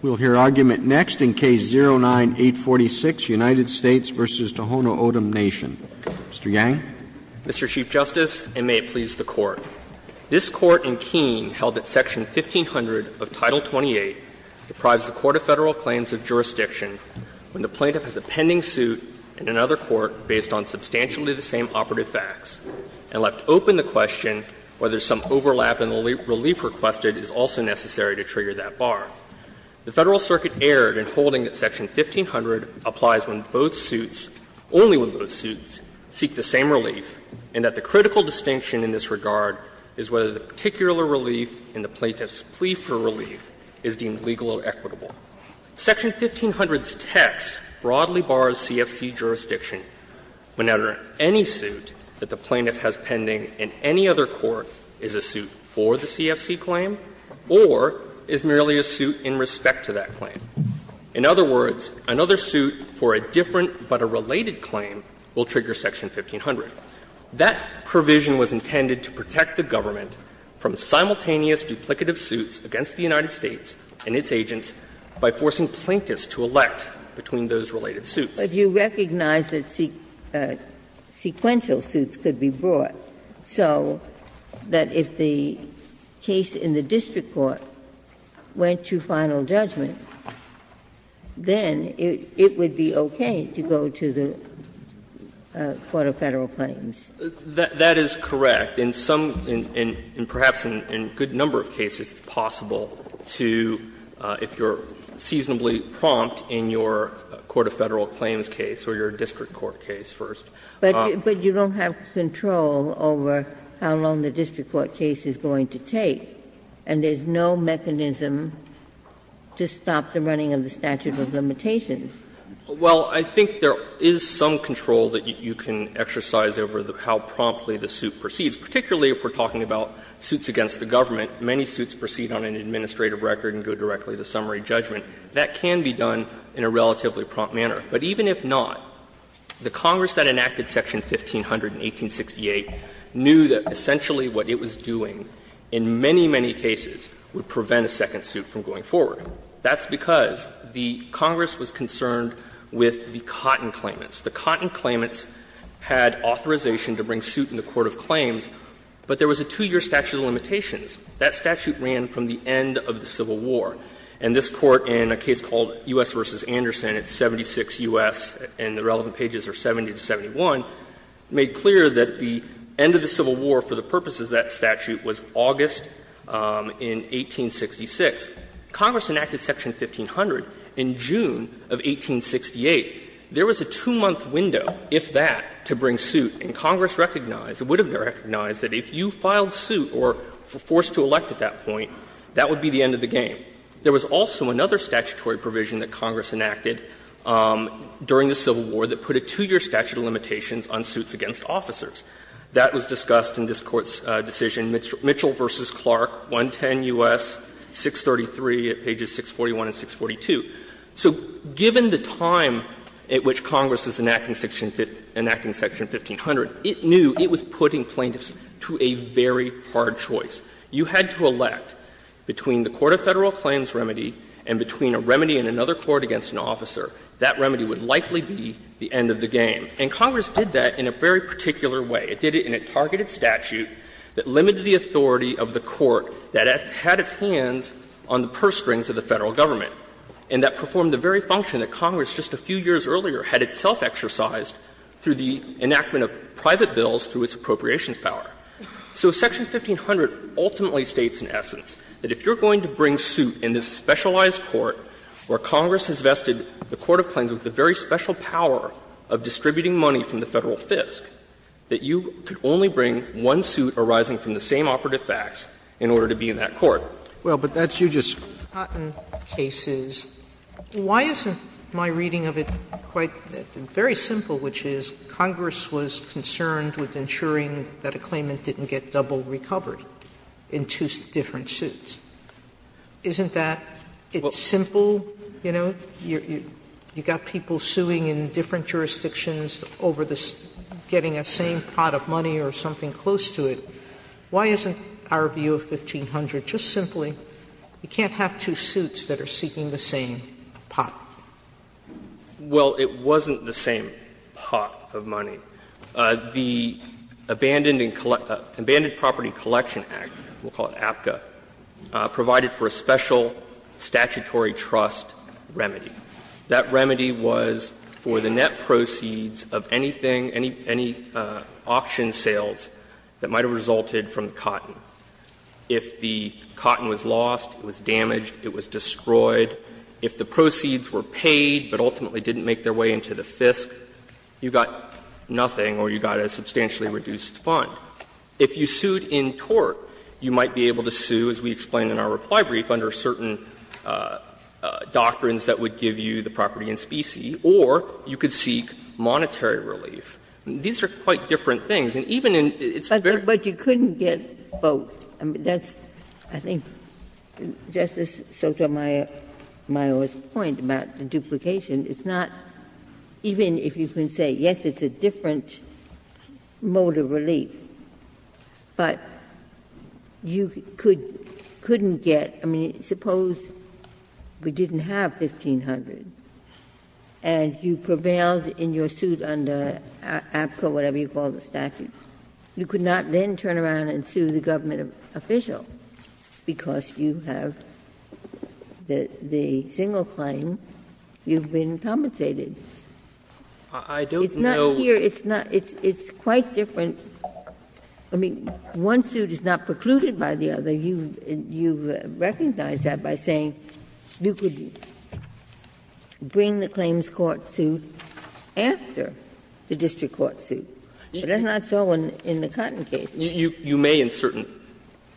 We'll hear argument next in Case 09-846, United States v. Tohono O'odham Nation. Mr. Yang. Mr. Chief Justice, and may it please the Court. This Court in Keene held that Section 1500 of Title 28 deprives the court of Federal claims of jurisdiction when the plaintiff has a pending suit in another court based on substantially the same operative facts, and left open the question whether some overlap in the relief requested is also necessary to trigger that bar. The Federal Circuit erred in holding that Section 1500 applies when both suits — only when both suits seek the same relief, and that the critical distinction in this regard is whether the particular relief in the plaintiff's plea for relief is deemed legal or equitable. Section 1500's text broadly bars CFC jurisdiction when, under any suit that the plaintiff has pending in any other court, the plaintiff is a suit for the CFC claim or is merely a suit in respect to that claim. In other words, another suit for a different but a related claim will trigger Section 1500. That provision was intended to protect the government from simultaneous duplicative suits against the United States and its agents by forcing plaintiffs to elect between those related suits. Ginsburg. But you recognize that sequential suits could be brought, so that if the case in the district court went to final judgment, then it would be okay to go to the Court of Federal Claims. That is correct. In some — and perhaps in a good number of cases, it's possible to, if you're a Federal Claims case or you're a district court case, first. But you don't have control over how long the district court case is going to take, and there's no mechanism to stop the running of the statute of limitations. Well, I think there is some control that you can exercise over how promptly the suit proceeds, particularly if we're talking about suits against the government. Many suits proceed on an administrative record and go directly to summary judgment. That can be done in a relatively prompt manner. But even if not, the Congress that enacted Section 1500 in 1868 knew that essentially what it was doing in many, many cases would prevent a second suit from going forward. That's because the Congress was concerned with the Cotton claimants. The Cotton claimants had authorization to bring suit in the court of claims, but there was a 2-year statute of limitations. That statute ran from the end of the Civil War. And this Court, in a case called U.S. v. Anderson, it's 76 U.S., and the relevant pages are 70 to 71, made clear that the end of the Civil War, for the purposes of that statute, was August in 1866. Congress enacted Section 1500 in June of 1868. There was a 2-month window, if that, to bring suit, and Congress recognized or would have recognized that if you filed suit or were forced to elect at that point, that would be the end of the game. There was also another statutory provision that Congress enacted during the Civil War that put a 2-year statute of limitations on suits against officers. That was discussed in this Court's decision, Mitchell v. Clark, 110 U.S., 633, pages 641 and 642. So given the time at which Congress is enacting Section 1500, it knew it was putting plaintiffs to a very hard choice. You had to elect between the Court of Federal Claims remedy and between a remedy in another court against an officer. That remedy would likely be the end of the game. And Congress did that in a very particular way. It did it in a targeted statute that limited the authority of the court that had its hands on the purse strings of the Federal government, and that performed the very function that Congress, just a few years earlier, had itself exercised through the enactment of private bills through its appropriations power. So Section 1500 ultimately states, in essence, that if you're going to bring suit in this specialized court where Congress has vested the Court of Claims with the very special power of distributing money from the Federal FISC, that you could only bring one suit arising from the same operative facts in order to be in that court. Sotomayor, but that's you just. Sotomayor, why isn't my reading of it quite very simple, which is Congress was concerned with ensuring that a claimant didn't get double recovered in two different suits? Isn't that, it's simple, you know? You've got people suing in different jurisdictions over getting a same pot of money or something close to it. Why isn't our view of 1500 just simply, you can't have two suits that are seeking the same pot? Well, it wasn't the same pot of money. The Abandoned Property Collection Act, we'll call it APCA, provided for a special statutory trust remedy. That remedy was for the net proceeds of anything, any auction sales that might have resulted from the cotton. If the cotton was lost, it was damaged, it was destroyed. If the proceeds were paid but ultimately didn't make their way into the FISC, you got nothing or you got a substantially reduced fund. If you sued in tort, you might be able to sue, as we explained in our reply brief, under certain doctrines that would give you the property and specie, or you could seek monetary relief. These are quite different things. And even in its very own case, it's not the same thing. Ginsburg But you couldn't get both. I mean, that's, I think, Justice Sotomayor's point about the duplication is not, even if you can say, yes, it's a different mode of relief, but you couldn't get, I mean, suppose we didn't have $1,500 and you prevailed in your suit under APCA, whatever you call the statute. You could not then turn around and sue the government official because you have the single claim you've been compensated. It's not here. It's quite different. I mean, one suit is not precluded by the other. You recognize that by saying you could bring the claims court suit after the district court suit, but that's not so in the Cotton case. You may in certain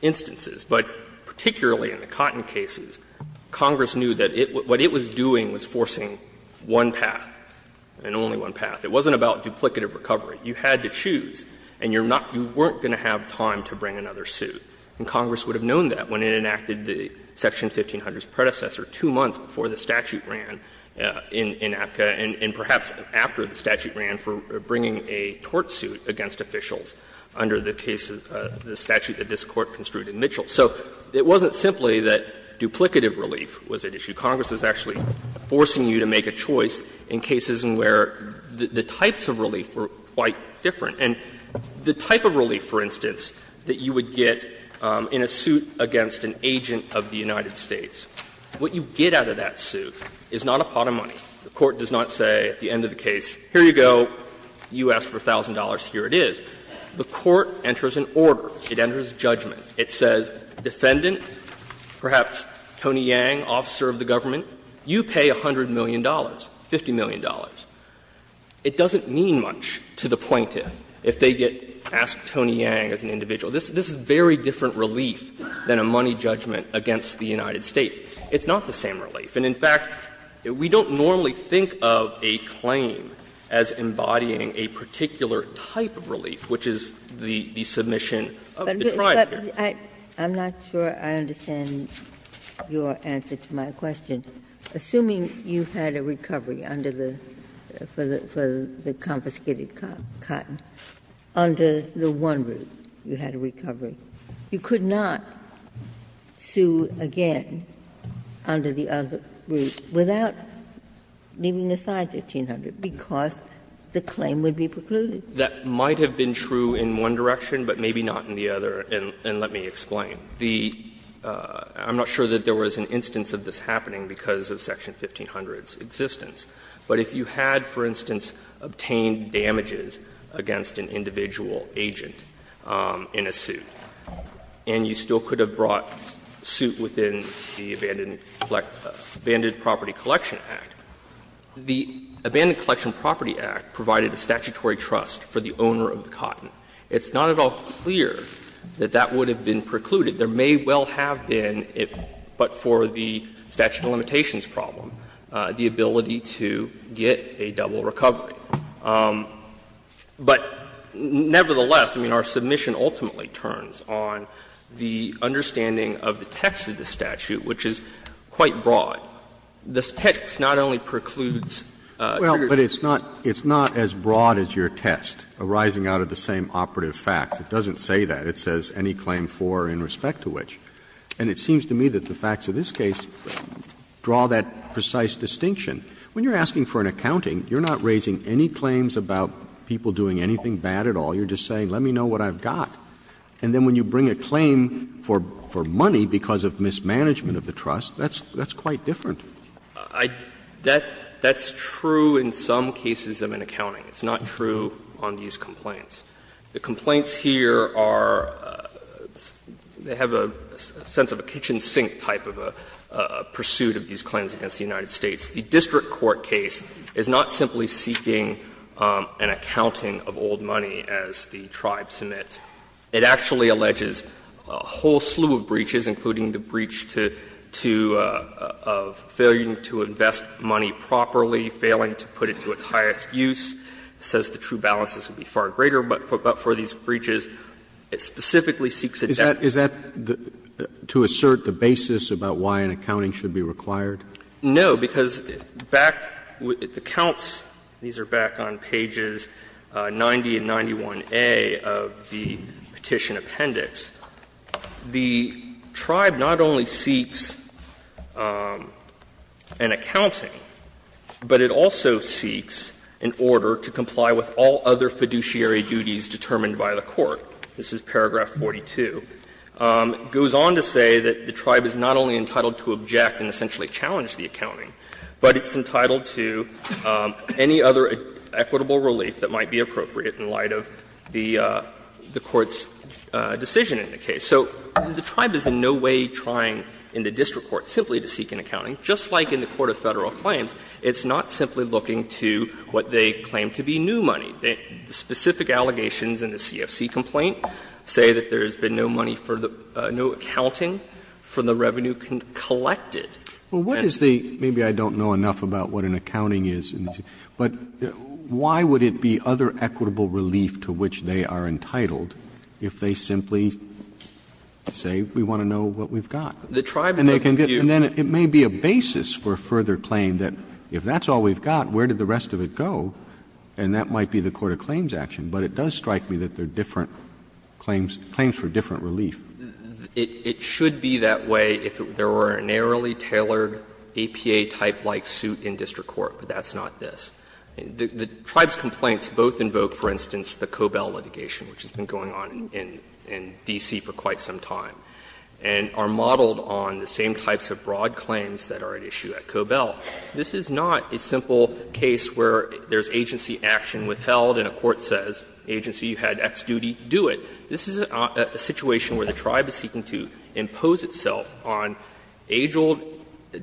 instances, but particularly in the Cotton cases, Congress knew that what it was doing was forcing one path, and only one path. It wasn't about duplicative recovery. You had to choose, and you're not going to have time to bring another suit. And Congress would have known that when it enacted the section 1500's predecessor two months before the statute ran in APCA, and perhaps after the statute ran for bringing a tort suit against officials under the cases, the statute that this Court construed in Mitchell. So it wasn't simply that duplicative relief was at issue. Congress is actually forcing you to make a choice in cases in where the types of relief were quite different. And the type of relief, for instance, that you would get in a suit against an agent of the United States, what you get out of that suit is not a pot of money. The Court does not say at the end of the case, here you go, you asked for $1,000, here it is. The Court enters an order. It enters judgment. It says, defendant, perhaps Tony Yang, officer of the government, you pay $100 million, $50 million. It doesn't mean much to the plaintiff if they get asked Tony Yang as an individual. This is very different relief than a money judgment against the United States. It's not the same relief. And in fact, we don't normally think of a claim as embodying a particular type of relief, which is the submission of the triumph. Ginsburg. But I'm not sure I understand your answer to my question. Assuming you had a recovery under the for the confiscated cotton, under the one route you had a recovery, you could not sue again under the other route without leaving aside $1,500 because the claim would be precluded. That might have been true in one direction, but maybe not in the other, and let me explain. The — I'm not sure that there was an instance of this happening because of Section 1500's existence. But if you had, for instance, obtained damages against an individual agent in a suit and you still could have brought suit within the Abandoned Property Collection Act, the Abandoned Collection Property Act provided a statutory trust for the owner of the cotton. It's not at all clear that that would have been precluded. There may well have been, but for the statute of limitations problem, the ability to get a double recovery. But nevertheless, I mean, our submission ultimately turns on the understanding of the text of the statute, which is quite broad. The text not only precludes triggers. Roberts Well, but it's not as broad as your test arising out of the same operative facts. It doesn't say that. It says any claim for in respect to which. And it seems to me that the facts of this case draw that precise distinction. When you're asking for an accounting, you're not raising any claims about people doing anything bad at all. You're just saying let me know what I've got. And then when you bring a claim for money because of mismanagement of the trust, that's quite different. Yang That's true in some cases of an accounting. It's not true on these complaints. The complaints here are they have a sense of a kitchen sink type of a pursuit of these claims against the United States. The district court case is not simply seeking an accounting of old money as the tribe submits. It actually alleges a whole slew of breaches, including the breach to to of failing to invest money properly, failing to put it to its highest use. It says the true balances would be far greater, but for these breaches, it specifically seeks a definition. Roberts Is that to assert the basis about why an accounting should be required? Yang No, because back with the counts, these are back on pages 90 and 91A of the Petition Appendix. The tribe not only seeks an accounting, but it also seeks an order to comply with all other fiduciary duties determined by the court. This is paragraph 42. It goes on to say that the tribe is not only entitled to object and essentially challenge the accounting, but it's entitled to any other equitable relief that might be appropriate in light of the Court's decision in the case. So the tribe is in no way trying in the district court simply to seek an accounting. Just like in the court of Federal claims, it's not simply looking to what they claim to be new money. The specific allegations in the CFC complaint say that there has been no money for the new accounting for the revenue collected. Roberts Well, what is the — maybe I don't know enough about what an accounting is, but why would it be other equitable relief to which they are entitled if they simply say we want to know what we've got? Yang The tribe— Roberts And then it may be a basis for further claim that if that's all we've got, where did the rest of it go? And that might be the court of claims action, but it does strike me that they're different claims, claims for different relief. Yang It should be that way if there were a narrowly tailored APA-type-like suit in district court, but that's not this. The tribe's complaints both invoke, for instance, the Cobell litigation, which has been going on in D.C. for quite some time, and are modeled on the same types of broad claims that are at issue at Cobell. This is not a simple case where there's agency action withheld and a court says, agency, you had X duty, do it. This is a situation where the tribe is seeking to impose itself on age-old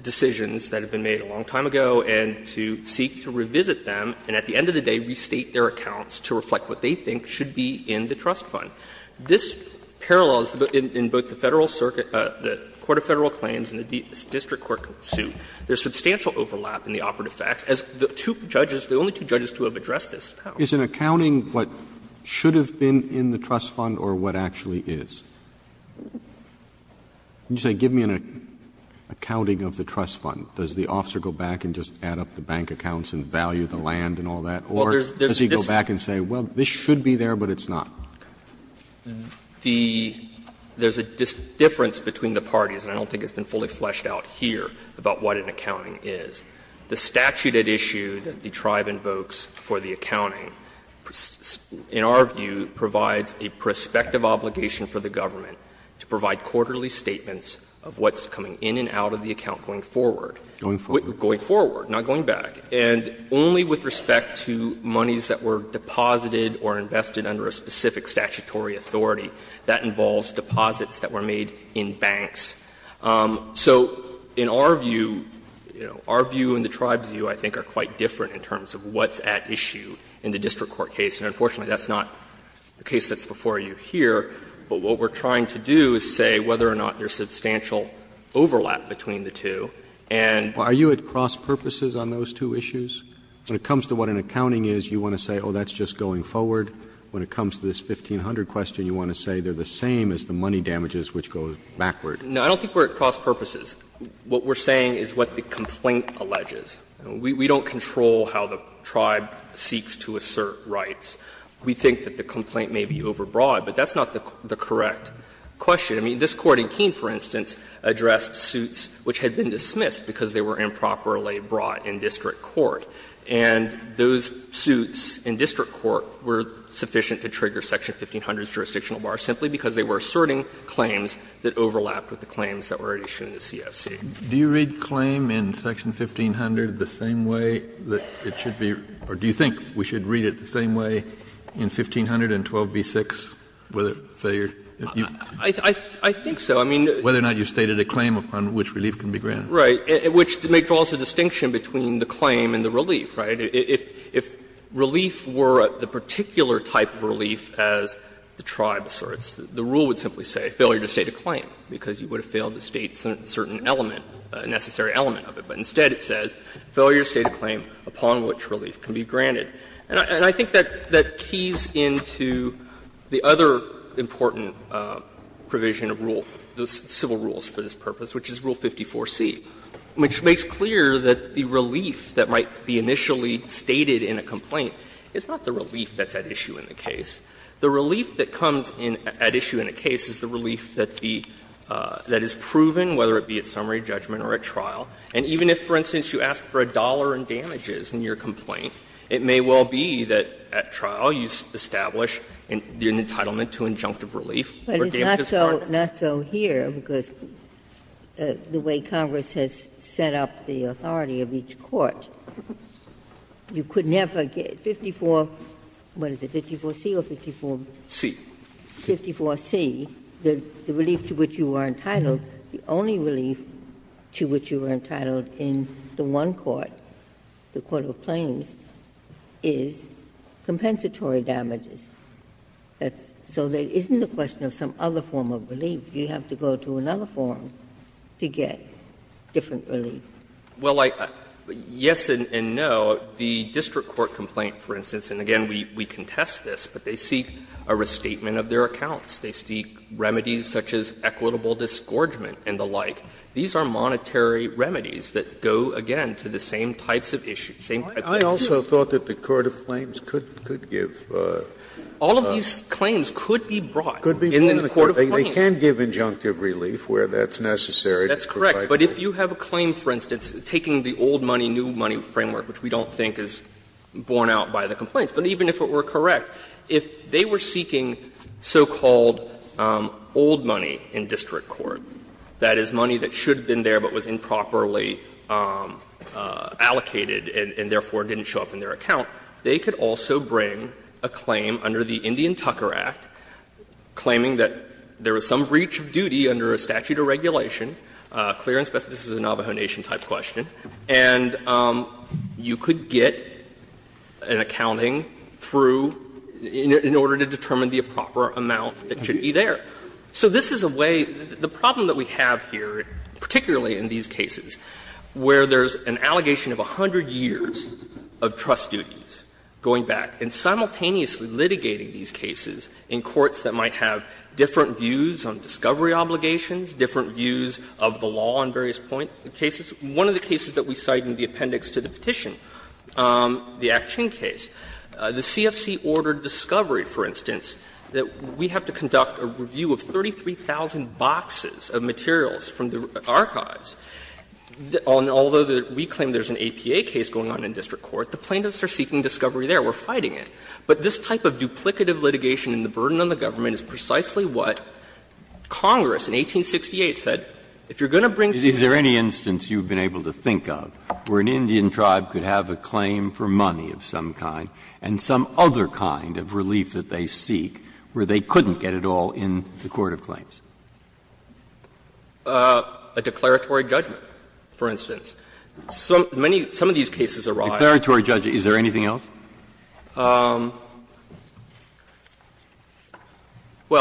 decisions that have been made a long time ago and to seek to revisit them and at the end of the day restate their accounts to reflect what they think should be in the trust fund. This parallels in both the Federal Circuit — the court of Federal claims and the district court suit. There's substantial overlap in the operative facts. As the two judges, the only two judges to have addressed this. Roberts Is an accounting what should have been in the trust fund or what actually is? You say give me an accounting of the trust fund. Does the officer go back and just add up the bank accounts and value the land and all that, or does he go back and say, well, this should be there, but it's not? Yang The — there's a difference between the parties, and I don't think it's been fully fleshed out here about what an accounting is. The statute at issue that the tribe invokes for the accounting, in our view, provides a prospective obligation for the government to provide quarterly statements of what's coming in and out of the account going forward. Roberts Going forward. Yang Going forward, not going back. And only with respect to monies that were deposited or invested under a specific statutory authority, that involves deposits that were made in banks. So in our view, you know, our view and the tribe's view, I think, are quite different in terms of what's at issue in the district court case. And unfortunately, that's not the case that's before you here. But what we're trying to do is say whether or not there's substantial overlap between the two. And — Roberts Are you at cross-purposes on those two issues? When it comes to what an accounting is, you want to say, oh, that's just going forward. When it comes to this 1500 question, you want to say they're the same as the money damages which go backward. Yang No, I don't think we're at cross-purposes. What we're saying is what the complaint alleges. We don't control how the tribe seeks to assert rights. We think that the complaint may be overbroad, but that's not the correct question. I mean, this Court in Keene, for instance, addressed suits which had been dismissed because they were improperly brought in district court. And those suits in district court were sufficient to trigger Section 1500's jurisdictional bar simply because they were asserting claims that overlapped with the claims that were issued in the CFC. Kennedy Do you read claim in Section 1500 the same way that it should be, or do you think we should read it the same way in 1500 and 12b-6, whether it's a failure? Yang I think so. I mean, Kennedy Whether or not you've stated a claim upon which relief can be granted. Yang Right. Which draws a distinction between the claim and the relief, right? If relief were the particular type of relief as the tribe asserts, the rule would simply say failure to state a claim, because you would have failed to state a certain element, a necessary element of it. But instead it says failure to state a claim upon which relief can be granted. And I think that keys into the other important provision of rule, the civil rules for this purpose, which is Rule 54c, which makes clear that the relief that might be initially stated in a complaint is not the relief that's at issue in the case. The relief that comes in at issue in a case is the relief that the – that is proven, whether it be at summary judgment or at trial. And even if, for instance, you ask for a dollar in damages in your complaint, it may well be that at trial you establish an entitlement to injunctive relief or damages granted. Ginsburg. So not so here, because the way Congress has set up the authority of each court, you could never get 54 – what is it, 54c or 54c? 54c, the relief to which you are entitled, the only relief to which you are entitled in the one court, the court of claims, is compensatory damages. So there isn't a question of some other form of relief. You have to go to another form to get different relief. Well, I – yes and no. The district court complaint, for instance, and again, we contest this, but they seek a restatement of their accounts. They seek remedies such as equitable disgorgement and the like. These are monetary remedies that go, again, to the same types of issues, same type of issues. Scalia. I also thought that the court of claims could give a – All of these claims could be brought in the court of claims. They can give injunctive relief where that's necessary. That's correct. But if you have a claim, for instance, taking the old money, new money framework, which we don't think is borne out by the complaints, but even if it were correct, if they were seeking so-called old money in district court, that is, money that should have been there but was improperly allocated and therefore didn't show up in their account, they could also bring a claim under the Indian Tucker Act, claiming that there was some breach of duty under a statute of regulation, clear and specific – this is a Navajo Nation-type question – and you could get an accounting through in order to determine the proper amount that should be there. So this is a way – the problem that we have here, particularly in this case, is that particularly in these cases where there's an allegation of 100 years of trust duties going back, and simultaneously litigating these cases in courts that might have different views on discovery obligations, different views of the law on various point cases. One of the cases that we cite in the appendix to the petition, the Action case, the CFC ordered discovery, for instance, that we have to conduct a review of 33,000 boxes of materials from the archives. Although we claim there's an APA case going on in district court, the plaintiffs are seeking discovery there. We're fighting it. But this type of duplicative litigation and the burden on the government is precisely what Congress, in 1868, said, if you're going to bring to the court a claim for money of some kind, and some other kind of relief that they seek where they couldn't get it all in the court of claims. A declaratory judgment, for instance. Some of these cases arise. Breyer's declaratory judgment. Is there anything else? Well,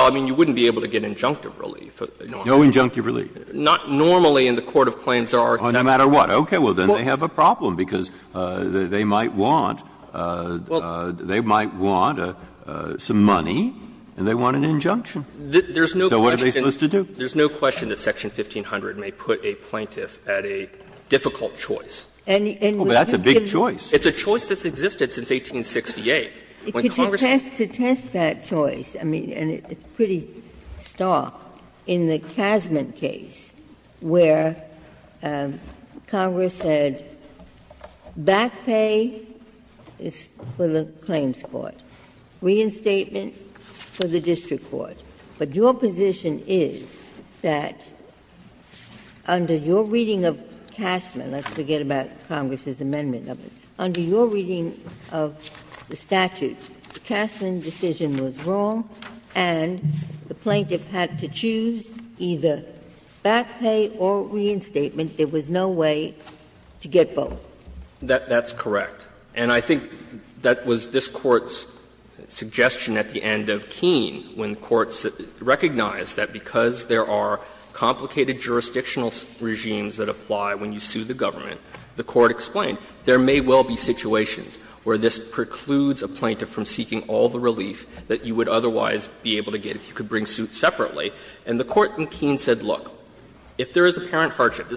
I mean, you wouldn't be able to get injunctive relief. No injunctive relief. Not normally in the court of claims there are exceptions. No matter what. Okay. Well, then they have a problem, because they might want some money and they want an injunction. So what are they supposed to do? There's no question that section 1500 may put a plaintiff at a difficult choice. And you can't get a choice that's existed since 1868. To test that choice, I mean, and it's pretty stark, in the Casment case where Congress said back pay is for the claims court, reinstatement for the district court. But your position is that under your reading of Casment, let's forget about Congress's amendment of it, under your reading of the statute, the Casment decision was wrong and the plaintiff had to choose either back pay or reinstatement. There was no way to get both. That's correct. And I think that was this Court's suggestion at the end of Keene, when the Court recognized that because there are complicated jurisdictional regimes that apply when you sue the government, the Court explained there may well be situations where this precludes a plaintiff from seeking all the relief that you would otherwise be able to get if you could bring suits separately. And the Court in Keene said, look, if there is apparent hardship,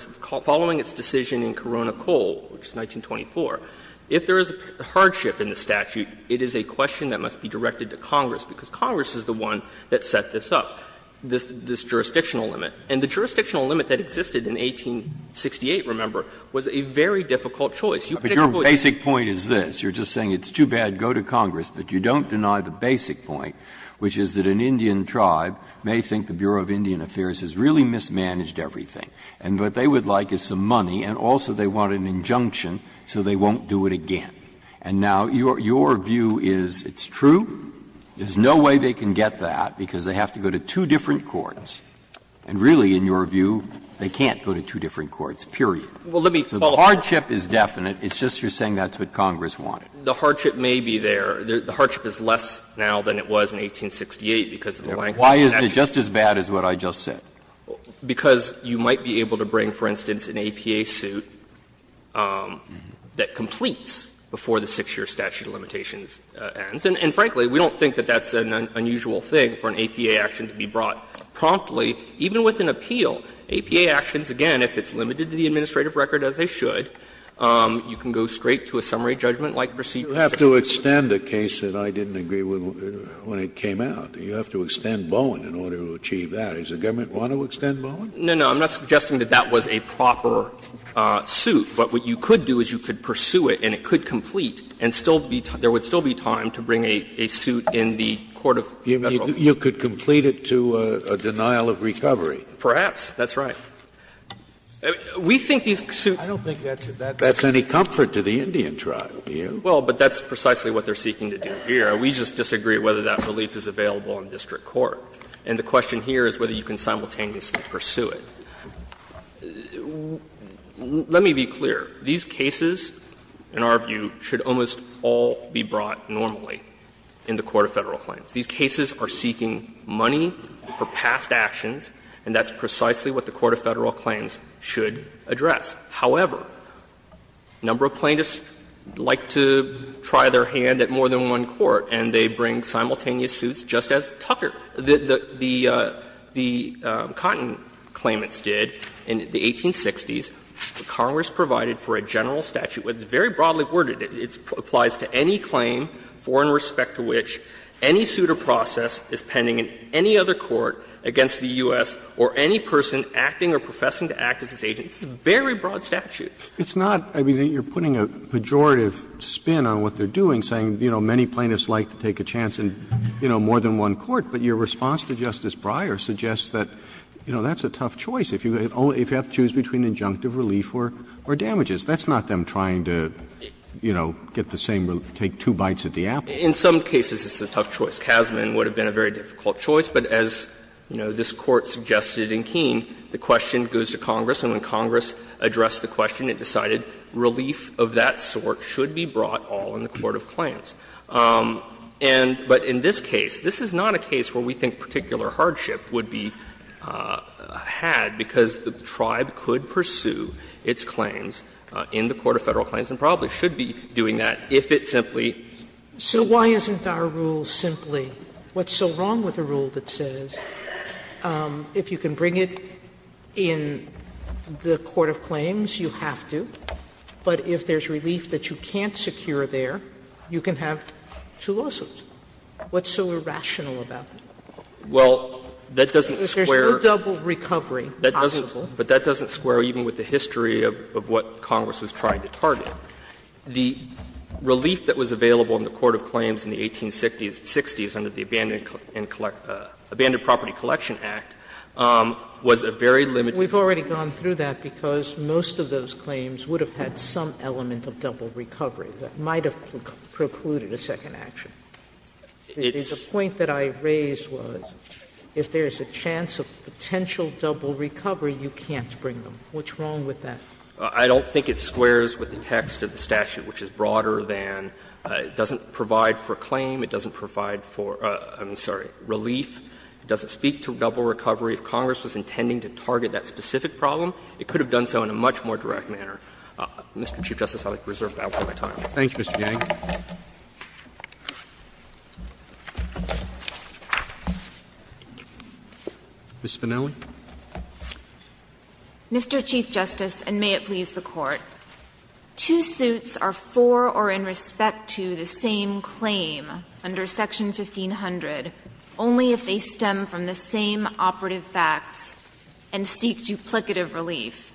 following its decision in Corona-Cole, which is 1924, if there is a hardship in the statute, it is a question that must be directed to Congress, because Congress is the one that set this up, this jurisdictional limit. And the jurisdictional limit that existed in 1868, remember, was a very difficult You could exploit it. Breyer, but your basic point is this. You're just saying it's too bad, go to Congress, but you don't deny the basic point, which is that an Indian tribe may think the Bureau of Indian Affairs has really mismanaged everything. And what they would like is some money, and also they want an injunction so they won't do it again. And now your view is it's true, there's no way they can get that because they have to go to two different courts, and really, in your view, they can't go to two different courts, period. So the hardship is definite, it's just you're saying that's what Congress wanted. The hardship may be there. The hardship is less now than it was in 1868 because of the blank date. Why isn't it just as bad as what I just said? Because you might be able to bring, for instance, an APA suit that completes before the 6-year statute of limitations ends. And frankly, we don't think that that's an unusual thing for an APA action to be brought promptly, even with an appeal. APA actions, again, if it's limited to the administrative record, as they should, you can go straight to a summary judgment like receipt of a case. Scalia, you have to extend a case that I didn't agree with when it came out. You have to extend Bowen in order to achieve that. Does the government want to extend Bowen? No, no. I'm not suggesting that that was a proper suit. But what you could do is you could pursue it and it could complete and still be — there would still be time to bring a suit in the court of Federal law. You could complete it to a denial of recovery. Perhaps. That's right. We think these suits. I don't think that's any comfort to the Indian tribe, do you? Well, but that's precisely what they're seeking to do here. We just disagree whether that relief is available in district court. And the question here is whether you can simultaneously pursue it. Let me be clear. These cases, in our view, should almost all be brought normally in the court of Federal claims. These cases are seeking money for past actions, and that's precisely what the court of Federal claims should address. However, a number of plaintiffs like to try their hand at more than one court, and they bring simultaneous suits just as Tucker. The Cotton claimants did in the 1860s. Congress provided for a general statute, but it's very broadly worded. It applies to any claim for and respect to which any suit or process is pending in any other court against the U.S. or any person acting or professing to act as its agent. It's a very broad statute. It's not — I mean, you're putting a pejorative spin on what they're doing, saying, you know, many plaintiffs like to take a chance in, you know, more than one court, but your response to Justice Breyer suggests that, you know, that's a tough choice if you have to choose between injunctive relief or damages. That's not them trying to, you know, get the same — take two bites at the apple. In some cases, it's a tough choice. Kasman would have been a very difficult choice, but as, you know, this Court suggested in Keene, the question goes to Congress, and when Congress addressed the question, it decided relief of that sort should be brought all in the court of claims. And — but in this case, this is not a case where we think particular hardship would be had, because the tribe could pursue its claims in the court of Federal claims and probably should be doing that if it simply could. Sotomayor, So why isn't our rule simply what's so wrong with a rule that says if you can bring it in the court of claims, you have to, but if there's relief that you can't have two lawsuits, what's so irrational about that? Well, that doesn't square with the history of what Congress was trying to target. The relief that was available in the court of claims in the 1860s under the Abandoned Property Collection Act was a very limited. We've already gone through that, because most of those claims would have had some element of double recovery that might have precluded a second action. The point that I raised was if there's a chance of potential double recovery, you can't bring them. What's wrong with that? I don't think it squares with the text of the statute, which is broader than it doesn't provide for claim, it doesn't provide for, I'm sorry, relief. It doesn't speak to double recovery. If Congress was intending to target that specific problem, it could have done so in a much more direct manner. Mr. Chief Justice, I would like to reserve that for my time. Thank you, Mr. Yang. Ms. Spinelli. Mr. Chief Justice, and may it please the Court, two suits are for or in respect to the same claim under Section 1500 only if they stem from the same operative facts and seek duplicative relief.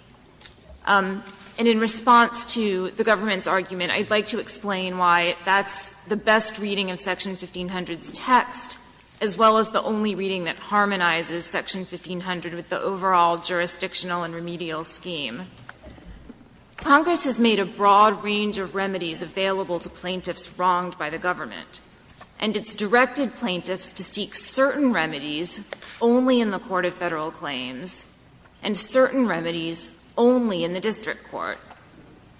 And in response to the government's argument, I'd like to explain why that's the best reading of Section 1500's text, as well as the only reading that harmonizes Section 1500 with the overall jurisdictional and remedial scheme. Congress has made a broad range of remedies available to plaintiffs wronged by the government, and it's directed plaintiffs to seek certain remedies only in the court of Federal claims, and certain remedies only in the district court.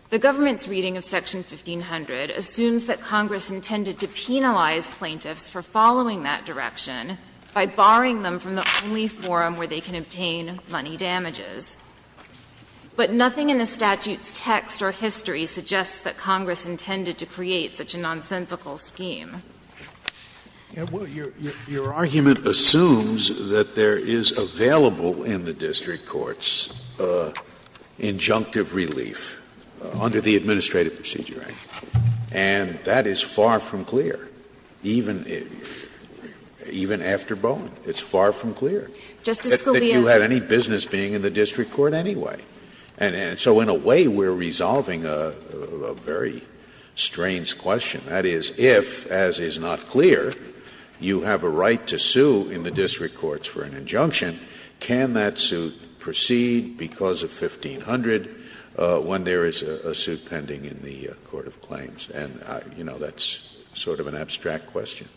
The government's reading of Section 1500 assumes that Congress intended to penalize plaintiffs for following that direction by barring them from the only forum where they can obtain money damages. But nothing in the statute's text or history suggests that Congress intended to create such a nonsensical scheme. Scalia. Well, your argument assumes that there is available in the district courts injunctive relief under the Administrative Procedure Act. And that is far from clear, even after Bowen. It's far from clear. Justice Scalia. That you had any business being in the district court anyway. And so in a way we're resolving a very strange question. That is, if, as is not clear, you have a right to sue in the district courts for an injunction, can that suit proceed because of 1500 when there is a suit pending in the court of claims? And, you know, that's sort of an abstract question.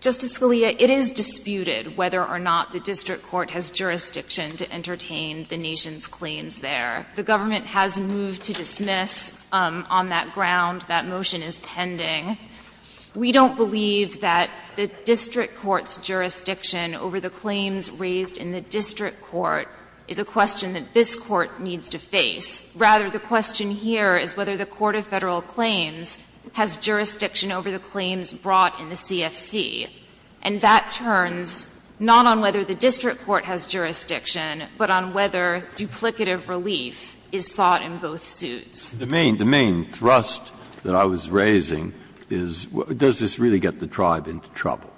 Justice Scalia, it is disputed whether or not the district court has jurisdiction to entertain the nation's claims there. The government has moved to dismiss on that ground. That motion is pending. We don't believe that the district court's jurisdiction over the claims raised in the district court is a question that this court needs to face. Rather, the question here is whether the court of Federal claims has jurisdiction over the claims brought in the CFC. And that turns not on whether the district court has jurisdiction, but on whether duplicative relief is sought in both suits. Breyer, the main thrust that I was raising is does this really get the tribe into trouble?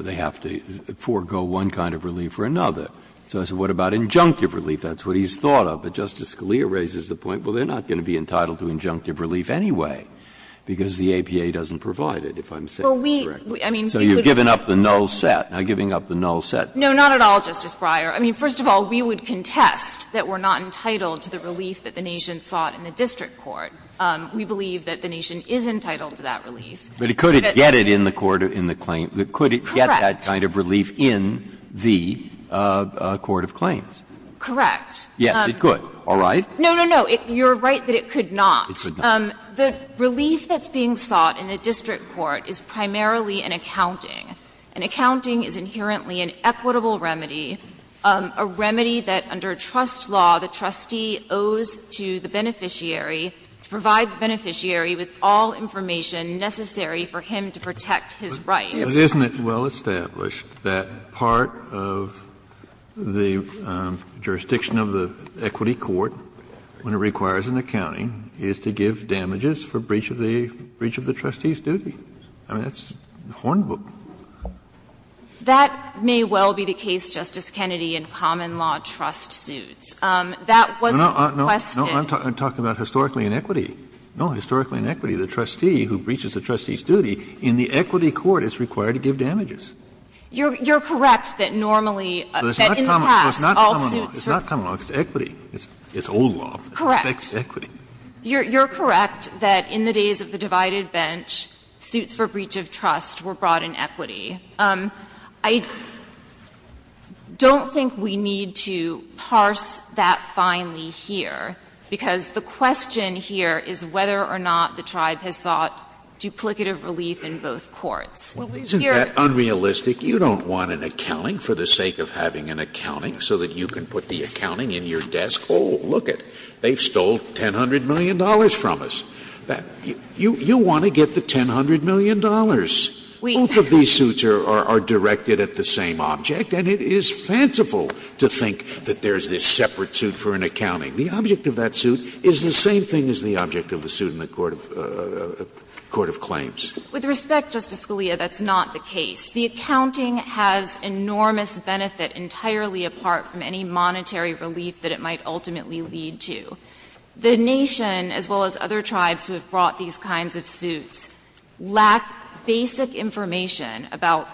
They have to forego one kind of relief for another. So I said what about injunctive relief? That's what he's thought of. But Justice Scalia raises the point, well, they're not going to be entitled to injunctive relief anyway, because the APA doesn't provide it, if I'm saying it correctly. So you've given up the null set, not giving up the null set. No, not at all, Justice Breyer. I mean, first of all, we would contest that we're not entitled to the relief that the nation sought in the district court. We believe that the nation is entitled to that relief. Breyer, but it could get it in the court in the claim. Could it get that kind of relief in the court of claims? Correct. Yes, it could. All right. No, no, no. You're right that it could not. It could not. The relief that's being sought in the district court is primarily an accounting. An accounting is inherently an equitable remedy, a remedy that under trust law the beneficiary, to provide the beneficiary with all information necessary for him to protect his rights. But isn't it well established that part of the jurisdiction of the equity court when it requires an accounting is to give damages for breach of the breach of the trustee's duty? I mean, that's a hornbook. That may well be the case, Justice Kennedy, in common law trust suits. That wasn't requested. No, I'm talking about historically in equity. No, historically in equity, the trustee who breaches the trustee's duty in the equity court is required to give damages. You're correct that normally, that in the past all suits were. It's not common law. It's equity. It's old law. Correct. It affects equity. You're correct that in the days of the divided bench, suits for breach of trust were brought in equity. I don't think we need to parse that finely here, because the question here is whether or not the tribe has sought duplicative relief in both courts. Here you're unrealistic. You don't want an accounting for the sake of having an accounting so that you can put the accounting in your desk. Oh, look it, they've stole $1,000,000,000 from us. You want to get the $1,000,000,000. Both of these suits are directed at the same object, and it is fanciful to think that there's this separate suit for an accounting. The object of that suit is the same thing as the object of the suit in the court of claims. With respect, Justice Scalia, that's not the case. The accounting has enormous benefit entirely apart from any monetary relief that it might ultimately lead to. The Nation, as well as other tribes who have brought these kinds of suits, lack basic information about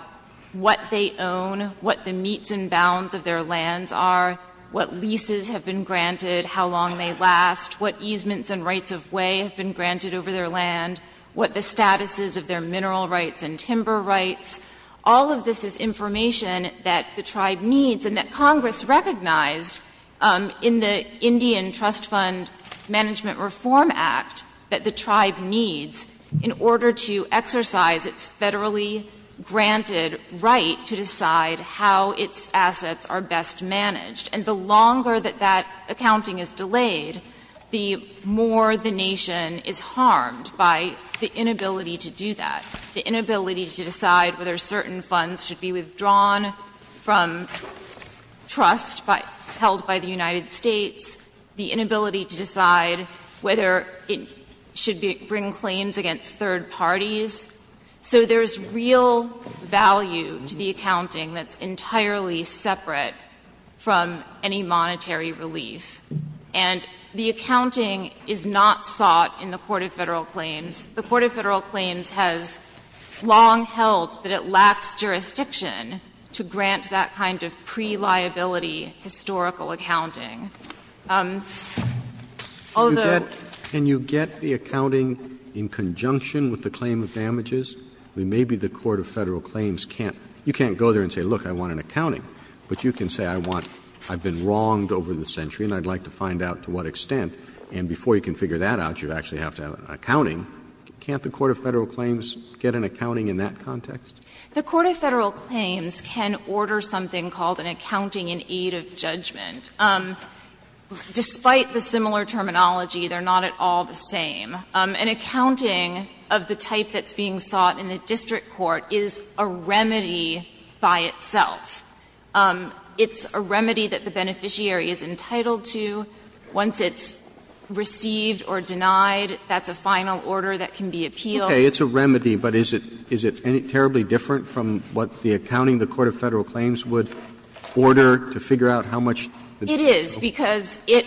what they own, what the meets and bounds of their lands are, what leases have been granted, how long they last, what easements and rights of way have been granted over their land, what the status is of their mineral rights and timber rights. All of this is information that the tribe needs and that Congress recognized in the Indian Trust Fund Management Reform Act that the tribe needs in order to exercise its Federally granted right to decide how its assets are best managed. And the longer that that accounting is delayed, the more the Nation is harmed by the inability to do that, the inability to decide whether certain funds should be withdrawn from trust held by the United States, the inability to decide whether it should bring claims against third parties. So there's real value to the accounting that's entirely separate from any monetary relief. And the accounting is not sought in the court of Federal claims. The court of Federal claims has long held that it lacks jurisdiction to grant that kind of pre-liability historical accounting. Although the Court of Federal Claims can't go there and say, look, I want an accounting, but you can say I want, I've been wronged over the century and I'd like to find out to what extent. And before you can figure that out, you actually have to have an accounting. Can't the Court of Federal Claims get an accounting in that context? The Court of Federal Claims can order something called an accounting in aid of judgment. Despite the similar terminology, they're not at all the same. An accounting of the type that's being sought in a district court is a remedy by itself. It's a remedy that the beneficiary is entitled to. Once it's received or denied, that's a final order that can be appealed. Roberts. It's a remedy, but is it terribly different from what the accounting the Court of Federal Claims would order to figure out how much the district would owe? It is, because it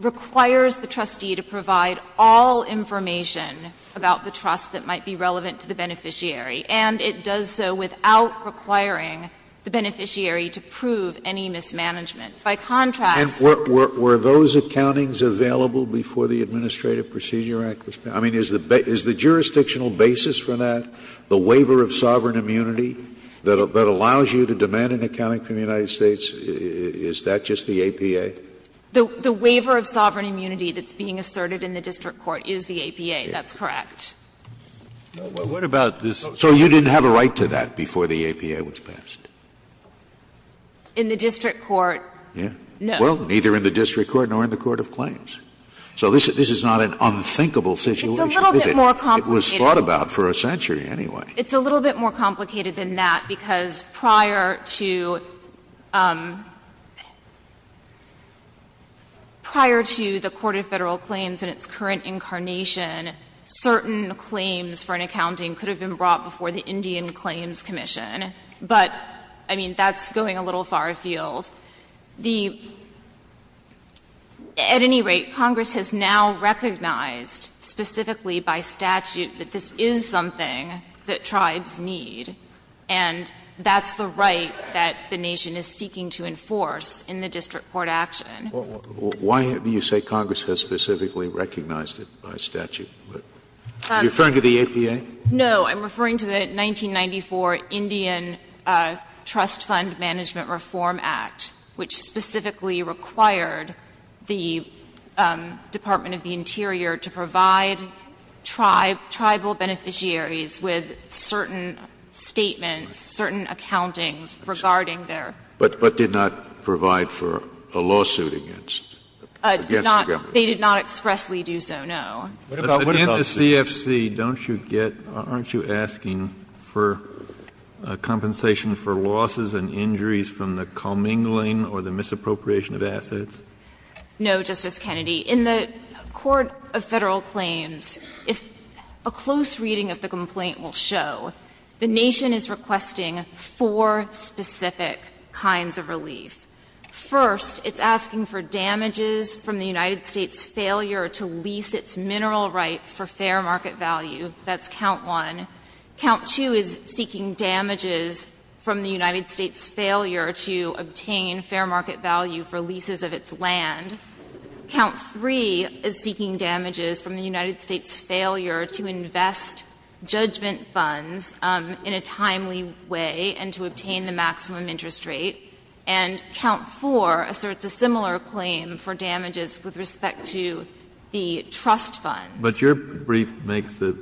requires the trustee to provide all information about the trust that might be relevant to the beneficiary. And it does so without requiring the beneficiary to prove any mismanagement. By contrast, Were those accountings available before the Administrative Procedure Act was passed? I mean, is the jurisdictional basis for that, the waiver of sovereign immunity that allows you to demand an accounting from the United States, is that just the APA? The waiver of sovereign immunity that's being asserted in the district court is the APA. That's correct. What about this? So you didn't have a right to that before the APA was passed? In the district court, no. Well, neither in the district court nor in the court of claims. So this is not an unthinkable situation, is it? It's a little bit more complicated. It was thought about for a century anyway. It's a little bit more complicated than that, because prior to the Court of Federal Accounting, certain claims for an accounting could have been brought before the Indian Claims Commission, but, I mean, that's going a little far afield. At any rate, Congress has now recognized, specifically by statute, that this is something that tribes need, and that's the right that the nation is seeking to enforce in the district court action. Why do you say Congress has specifically recognized it by statute? Are you referring to the APA? No. I'm referring to the 1994 Indian Trust Fund Management Reform Act, which specifically required the Department of the Interior to provide tribal beneficiaries with certain statements, certain accountings regarding their own. But did not provide for a lawsuit against the government. They did not expressly do so, no. But in the CFC, don't you get or aren't you asking for a compensation for losses and injuries from the commingling or the misappropriation of assets? No, Justice Kennedy. In the Court of Federal Claims, a close reading of the complaint will show the nation is requesting four specific kinds of relief. First, it's asking for damages from the United States' failure to lease its mineral rights for fair market value. That's count one. Count two is seeking damages from the United States' failure to obtain fair market value for leases of its land. Count three is seeking damages from the United States' failure to invest judgment funds in a timely way and to obtain the maximum interest rate. And count four asserts a similar claim for damages with respect to the trust funds. But your brief makes the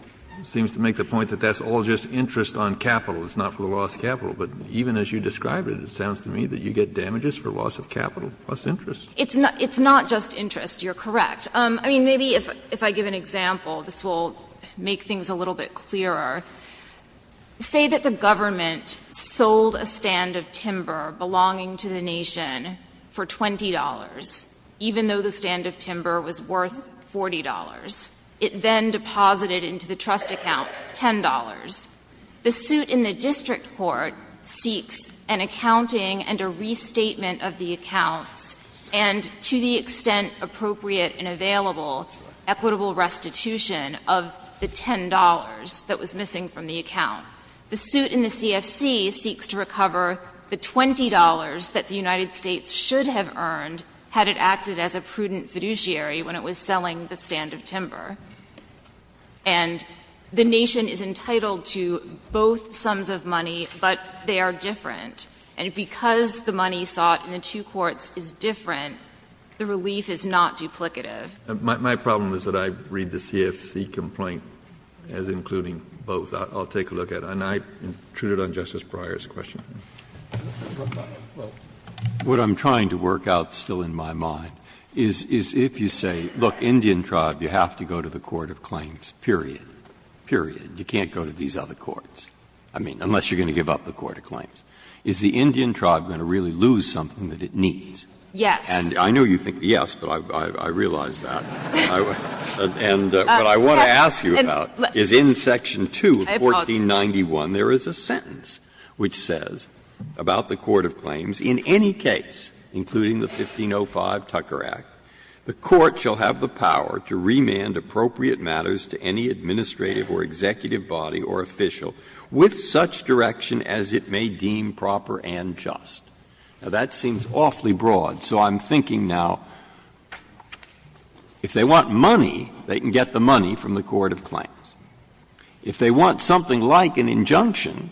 – seems to make the point that that's all just interest on capital. It's not for the loss of capital. But even as you describe it, it sounds to me that you get damages for loss of capital plus interest. It's not just interest. You're correct. I mean, maybe if I give an example, this will make things a little bit clearer. Say that the government sold a stand of timber belonging to the nation for $20, even though the stand of timber was worth $40. It then deposited into the trust account $10. The suit in the district court seeks an accounting and a restatement of the accounts and to the extent appropriate and available, equitable restitution of the $10 that was missing from the account. The suit in the CFC seeks to recover the $20 that the United States should have earned had it acted as a prudent fiduciary when it was selling the stand of timber. And the nation is entitled to both sums of money, but they are different. And because the money sought in the two courts is different, the relief is not duplicative. Kennedy, my problem is that I read the CFC complaint as including both. I'll take a look at it. And I intruded on Justice Breyer's question. Breyer, what I'm trying to work out still in my mind is if you say, look, Indian tribe, you have to go to the court of claims, period, period. You can't go to these other courts, I mean, unless you're going to give up the court of claims. Is the Indian tribe going to really lose something that it needs? Yes. And I know you think yes, but I realize that. And what I want to ask you about is in section 2 of 1491, there is a sentence which says about the court of claims, in any case, including the 1505 Tucker Act, the court shall have the power to remand appropriate matters to any administrative or executive body or official with such direction as it may deem proper and just. Now, that seems awfully broad, so I'm thinking now, if they want money, they can get the money from the court of claims. If they want something like an injunction,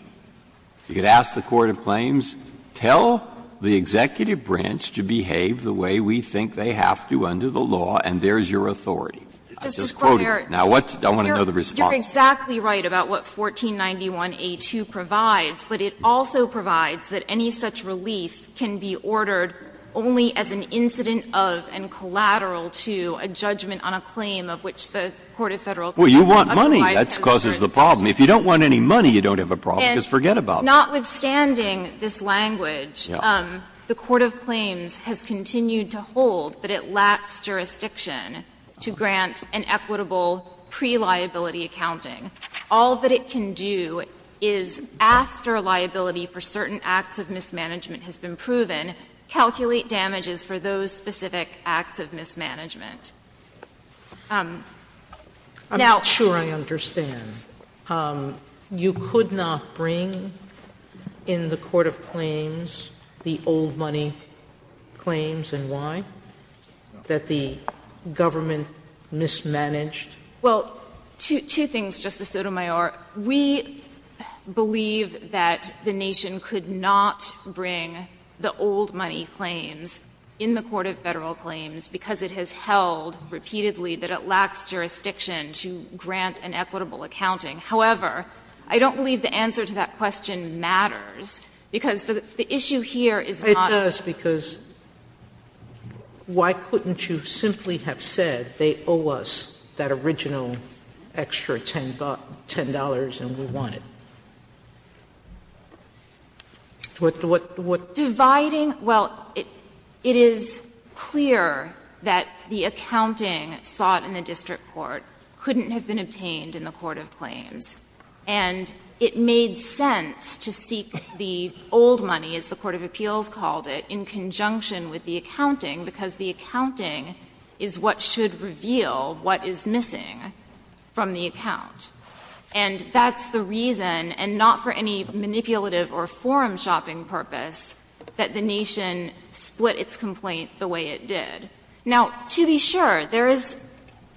you could ask the court of claims, tell the executive branch to behave the way we think they have to under the law, and there is your authority. It's just quoting. Now, what's the other response? Well, you're exactly right about what 1491a2 provides, but it also provides that any such relief can be ordered only as an incident of and collateral to a judgment on a claim of which the court of federal claims underlies. Well, you want money. That causes the problem. If you don't want any money, you don't have a problem, because forget about that. And notwithstanding this language, the court of claims has continued to hold that it lacks jurisdiction to grant an equitable pre-liability accounting. All that it can do is, after liability for certain acts of mismanagement has been proven, calculate damages for those specific acts of mismanagement. Now, I'm not sure I understand. You could not bring in the court of claims the old money claims, and why? That the government mismanaged? Well, two things, Justice Sotomayor. We believe that the nation could not bring the old money claims in the court of federal claims because it has held repeatedly that it lacks jurisdiction to grant an equitable accounting. However, I don't believe the answer to that question matters, because the issue here is not. Sotomayor, it does, because why couldn't you simply have said they owe us that original extra $10 and we want it? What the what? Dividing, well, it is clear that the accounting sought in the district court couldn't have been obtained in the court of claims. And it made sense to seek the old money, as the court of appeals called it, in conjunction with the accounting, because the accounting is what should reveal what is missing from the account. And that's the reason, and not for any manipulative or forum shopping purpose, that the nation split its complaint the way it did. Now, to be sure, there is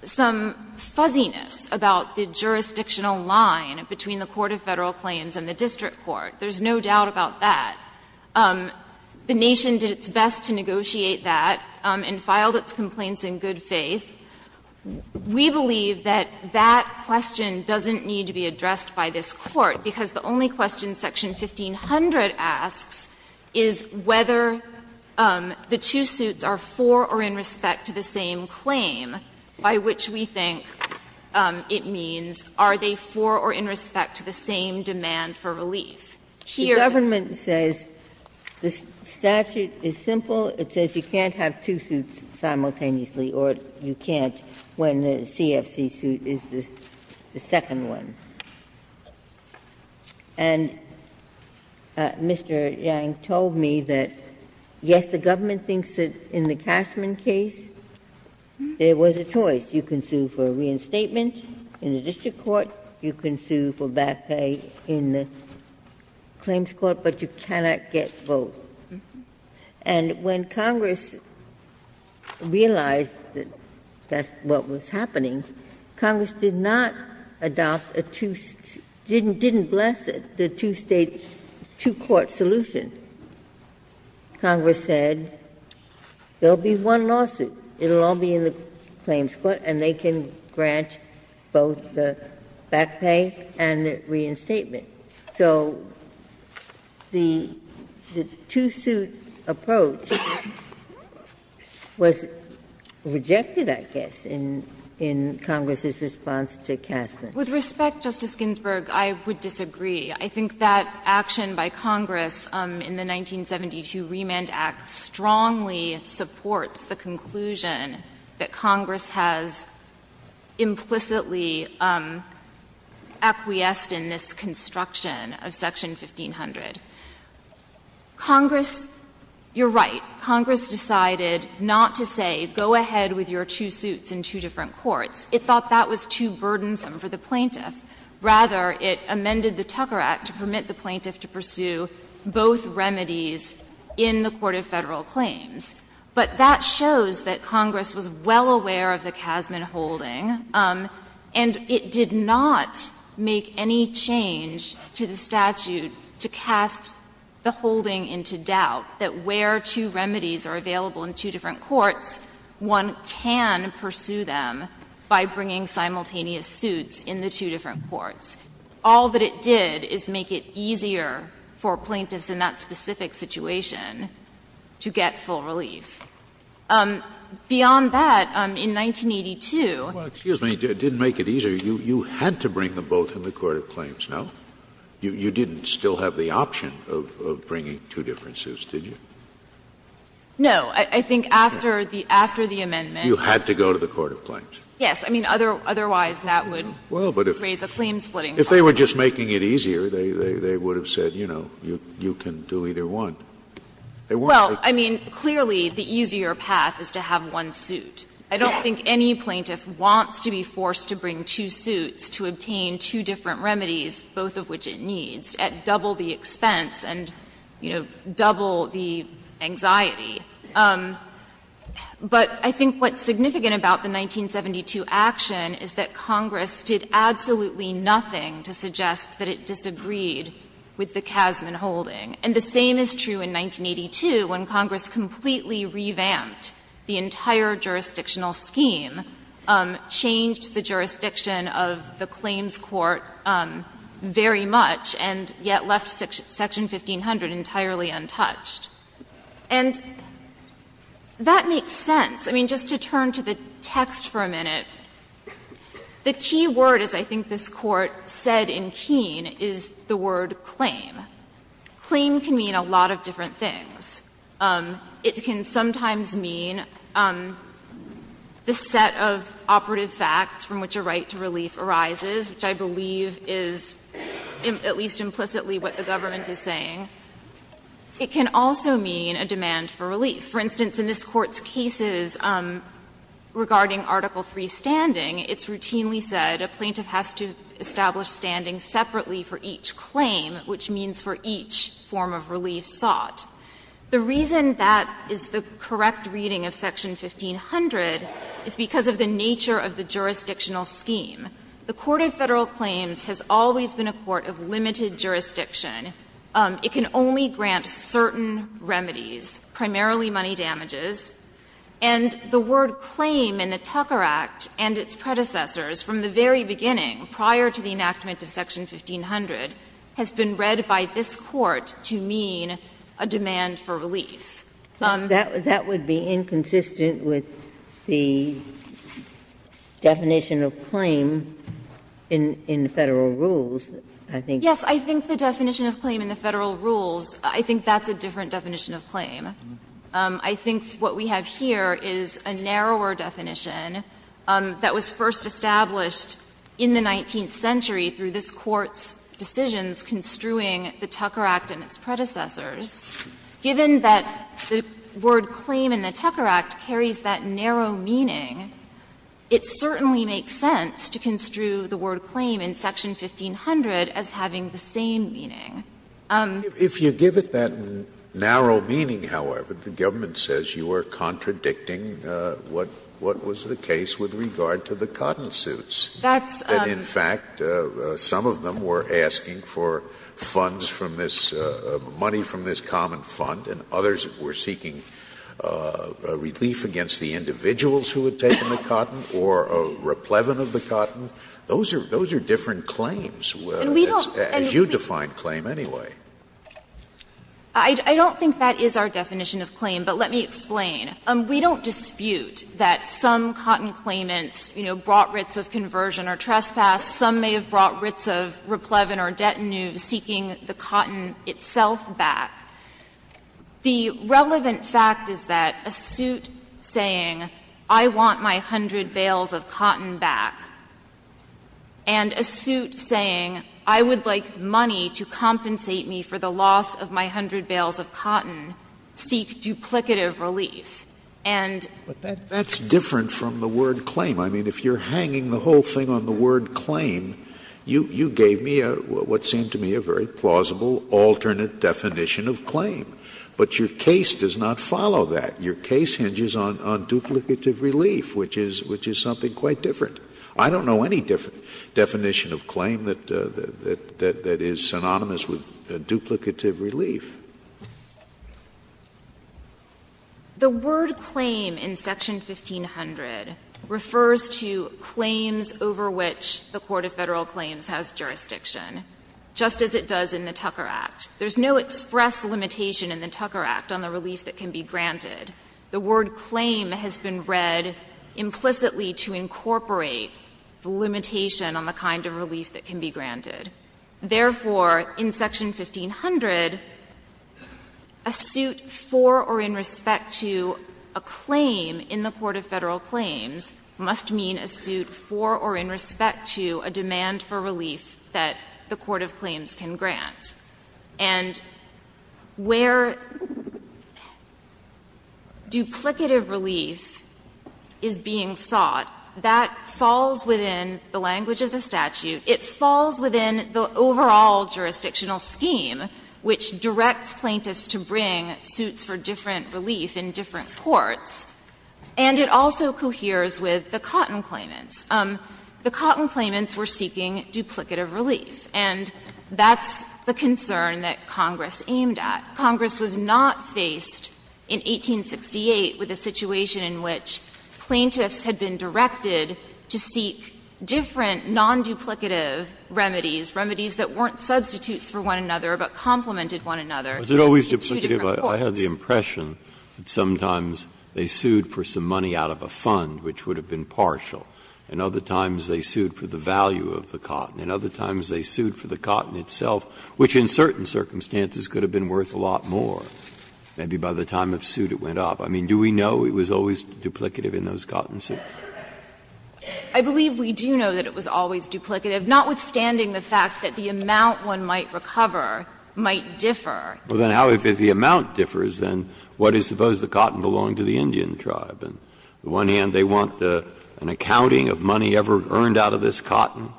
some fuzziness about the jurisdictional line between the court of Federal claims and the district court. There's no doubt about that. The nation did its best to negotiate that and filed its complaints in good faith. We believe that that question doesn't need to be addressed by this Court, because the only question Section 1500 asks is whether the two suits are for or in violation of the same claim, by which we think it means, are they for or in respect to the same demand for relief. Here, the government says the statute is simple. It says you can't have two suits simultaneously, or you can't when the CFC suit is the second one. And Mr. Yang told me that, yes, the government thinks that in the Cashman case, there was a choice. You can sue for reinstatement in the district court. You can sue for back pay in the claims court, but you cannot get both. And when Congress realized that that's what was happening, Congress did not adopt a two state – didn't bless it, the two state, two court solution. Congress said there will be one lawsuit. It will all be in the claims court, and they can grant both the back pay and the reinstatement. So the two suit approach was rejected, I guess, in Congress's response to Cashman. With respect, Justice Ginsburg, I would disagree. I think that action by Congress in the 1972 Remand Act strongly supports the conclusion that Congress has implicitly acquiesced in this construction of Section 1500. Congress – you're right. Congress decided not to say go ahead with your two suits in two different courts. It thought that was too burdensome for the plaintiff. Rather, it amended the Tucker Act to permit the plaintiff to pursue both remedies in the court of Federal claims. But that shows that Congress was well aware of the Cashman holding, and it did not make any change to the statute to cast the holding into doubt that where two remedies are available in two different courts, one can pursue them by bringing simultaneous suits in the two different courts. All that it did is make it easier for plaintiffs in that specific situation to get full relief. Beyond that, in 1982 you had to bring them both in the court of claims, no? You didn't still have the option of bringing two different suits, did you? No. I think after the amendment. You had to go to the court of claims. Yes. I mean, otherwise that would raise a claim-splitting problem. If they were just making it easier, they would have said, you know, you can do either one. They weren't. Well, I mean, clearly the easier path is to have one suit. I don't think any plaintiff wants to be forced to bring two suits to obtain two different remedies, both of which it needs, at double the expense and, you know, double the anxiety. But I think what's significant about the 1972 action is that Congress did absolutely nothing to suggest that it disagreed with the Casman holding. And the same is true in 1982, when Congress completely revamped the entire jurisdictional scheme, changed the jurisdiction of the claims court very much, and yet left Section 1500 entirely untouched. And that makes sense. I mean, just to turn to the text for a minute, the key word, as I think this Court said in Keene, is the word claim. Claim can mean a lot of different things. It can sometimes mean the set of operative facts from which a right to relief arises, which I believe is at least implicitly what the government is saying. It can also mean a demand for relief. For instance, in this Court's cases regarding Article III standing, it's routinely said a plaintiff has to establish standing separately for each claim, which means for each form of relief sought. The reason that is the correct reading of Section 1500 is because of the nature of the jurisdictional scheme. The court of Federal claims has always been a court of limited jurisdiction. It can only grant certain remedies, primarily money damages. And the word claim in the Tucker Act and its predecessors from the very beginning prior to the enactment of Section 1500 has been read by this Court to mean a demand for relief. Ginsburg. That would be inconsistent with the definition of claim in the Federal rules, I think. Yes, I think the definition of claim in the Federal rules, I think that's a different definition of claim. I think what we have here is a narrower definition that was first established in the 19th century through this Court's decisions construing the Tucker Act and its predecessors. Given that the word claim in the Tucker Act carries that narrow meaning, it certainly makes sense to construe the word claim in Section 1500 as having the same meaning. If you give it that narrow meaning, however, the government says you are contradicting what was the case with regard to the cotton suits. That's a That's a And in fact, some of them were asking for funds from this, money from this common fund, and others were seeking relief against the individuals who had taken the cotton or a replevin of the cotton. Those are different claims. As you define claim anyway. I don't think that is our definition of claim, but let me explain. We don't dispute that some cotton claimants, you know, brought writs of conversion or trespass. Some may have brought writs of replevin or detenue seeking the cotton itself back. The relevant fact is that a suit saying I want my hundred bales of cotton back and a suit saying I would like money to compensate me for the loss of my hundred bales of cotton seek duplicative relief. And But that's different from the word claim. I mean, if you are hanging the whole thing on the word claim, you gave me what seemed to me a very plausible alternate definition of claim. But your case does not follow that. Your case hinges on duplicative relief, which is something quite different. I don't know any definition of claim that is synonymous with duplicative relief. The word claim in section 1500 refers to claims over which the court of Federal claims must mean a suit for or in respect to a demand for relief that can be granted. The word claim has been read implicitly to incorporate the limitation on the kind of relief that can be granted. Therefore, in section 1500, a suit for or in respect to a claim in the court of Federal claims must mean a suit for or in respect to a demand for relief that the court of claims can grant. And where duplicative relief is being sought, that falls within the language of the statute. It falls within the overall jurisdictional scheme, which directs plaintiffs to bring suits for different relief in different courts, and it also coheres with the cotton claimants. The cotton claimants were seeking duplicative relief, and that's the concern that Congress aimed at. Congress was not faced in 1868 with a situation in which plaintiffs had been directed to seek different non-duplicative remedies, remedies that weren't substitutes for one another but complemented one another in two different courts. Breyer, I had the impression that sometimes they sued for some money out of a fund which would have been partial. And other times they sued for the value of the cotton. And other times they sued for the cotton itself, which in certain circumstances could have been worth a lot more. Maybe by the time of suit it went up. I mean, do we know it was always duplicative in those cotton suits? I believe we do know that it was always duplicative, notwithstanding the fact that the amount one might recover might differ. Well, then how if the amount differs, then what is supposed the cotton belonging to the Indian tribe? On the one hand, they want an accounting of money ever earned out of this cotton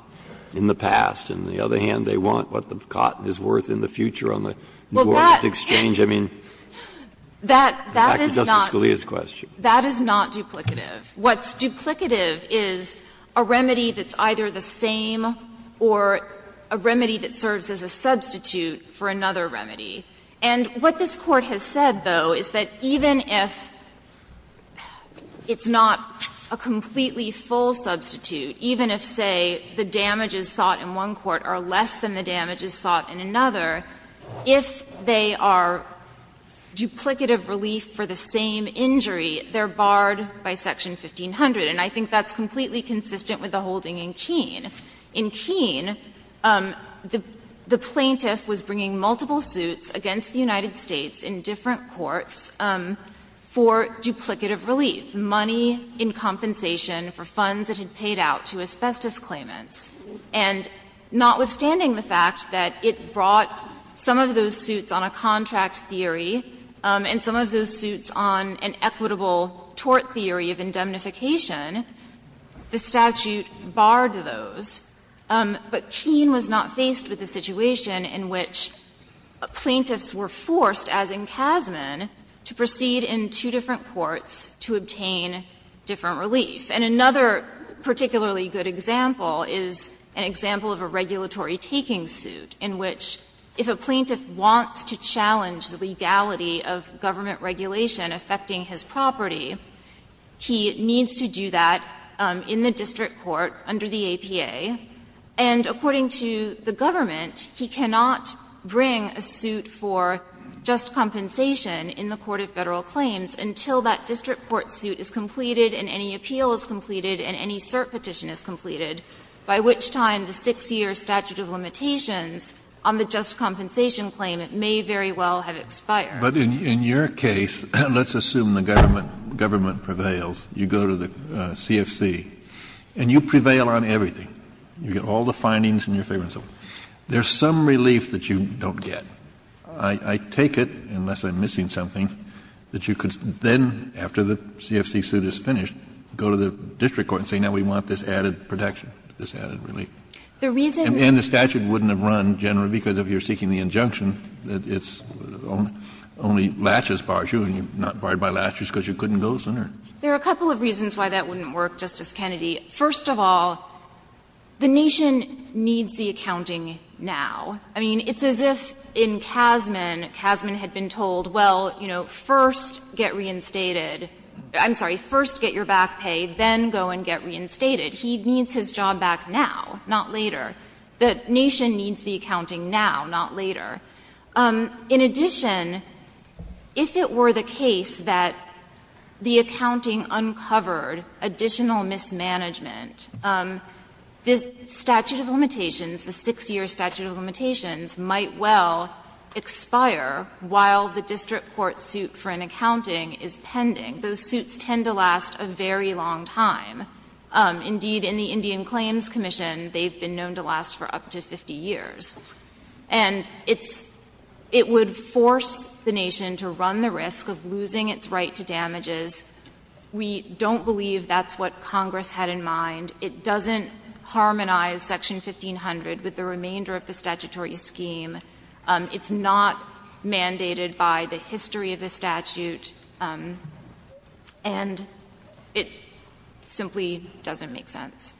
in the past. On the other hand, they want what the cotton is worth in the future on the New Orleans exchange. I mean, back to Justice Scalia's question. That is not duplicative. What's duplicative is a remedy that's either the same or a remedy that serves as a substitute for another remedy. And what this Court has said, though, is that even if it's not a completely full substitute, even if, say, the damages sought in one court are less than the damages sought in another, if they are duplicative relief for the same injury, they're barred by section 1500. And I think that's completely consistent with the holding in Keene. In Keene, the plaintiff was bringing multiple suits against the United States in different courts for duplicative relief, money in compensation for funds it had paid out to asbestos claimants. And notwithstanding the fact that it brought some of those suits on a contract theory and some of those suits on an equitable tort theory of indemnification, the statute barred those. But Keene was not faced with a situation in which plaintiffs were forced, as in Kasman, to proceed in two different courts to obtain different relief. And another particularly good example is an example of a regulatory taking suit in which if a plaintiff wants to challenge the legality of government regulation affecting his property, he needs to do that in the district court under the APA. And according to the government, he cannot bring a suit for just compensation in the court of Federal claims until that district court suit is completed and any appeal is completed and any cert petition is completed, by which time the 6-year statute of limitations on the just compensation claim may very well have expired. Kennedy, but in your case, let's assume the government prevails, you go to the CFC and you prevail on everything. You get all the findings in your favor and so forth. There's some relief that you don't get. I take it, unless I'm missing something, that you could then, after the CFC suit is finished, go to the district court and say now we want this added protection, this added relief. And it's only laches bars you, and you're not barred by laches because you couldn't go sooner? There are a couple of reasons why that wouldn't work, Justice Kennedy. First of all, the nation needs the accounting now. I mean, it's as if in Kasman, Kasman had been told, well, you know, first get reinstated — I'm sorry, first get your back pay, then go and get reinstated. He needs his job back now, not later. The nation needs the accounting now, not later. In addition, if it were the case that the accounting uncovered additional mismanagement, the statute of limitations, the six-year statute of limitations might well expire while the district court suit for an accounting is pending. Those suits tend to last a very long time. Indeed, in the Indian Claims Commission, they've been known to last for up to 50 years. And it's — it would force the nation to run the risk of losing its right to damages. We don't believe that's what Congress had in mind. It doesn't harmonize Section 1500 with the remainder of the statutory scheme. It's not mandated by the history of the statute. And it simply doesn't make sense.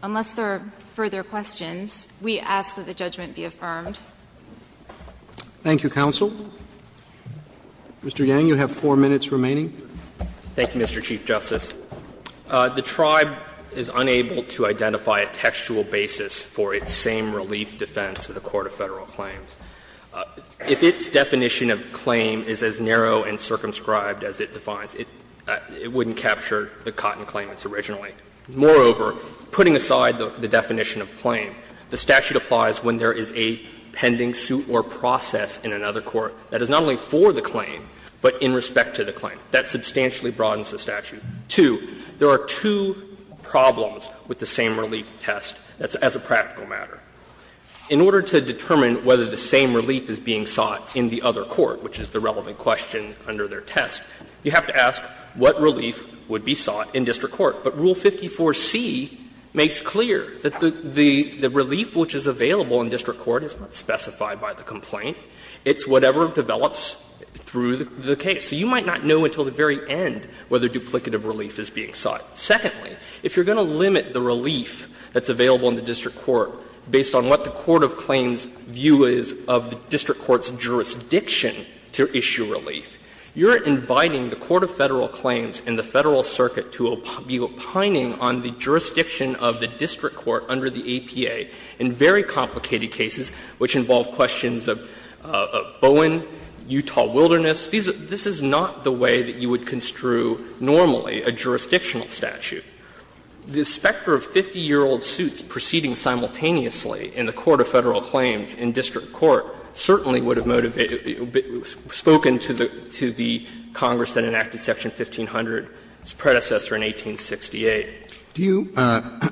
Unless there are further questions, we ask that the judgment be affirmed. Roberts. Thank you, counsel. Mr. Yang, you have four minutes remaining. Thank you, Mr. Chief Justice. The Tribe is unable to identify a textual basis for its same relief defense in the Court of Federal Claims. If its definition of claim is as narrow and circumscribed as it defines, it wouldn't capture the Cotton claimants originally. Moreover, putting aside the definition of claim, the statute applies when there is a pending suit or process in another court that is not only for the claim, but in respect to the claim. That substantially broadens the statute. Two, there are two problems with the same relief test as a practical matter. In order to determine whether the same relief is being sought in the other court, which is the relevant question under their test, you have to ask what relief would be sought in district court. But Rule 54c makes clear that the relief which is available in district court is not specified by the complaint. It's whatever develops through the case. So you might not know until the very end whether duplicative relief is being sought. Secondly, if you're going to limit the relief that's available in the district court based on what the court of claims view is of the district court's jurisdiction to issue relief, you're inviting the court of Federal claims and the Federal circuit to be opining on the jurisdiction of the district court under the APA in very complicated cases which involve questions of Bowen, Utah wilderness. This is not the way that you would construe normally a jurisdictional statute. The specter of 50-year-old suits proceeding simultaneously in the court of Federal claims in district court certainly would have motivated the bit spoken to the Congress that enacted section 1500, its predecessor in 1868. Roberts, do you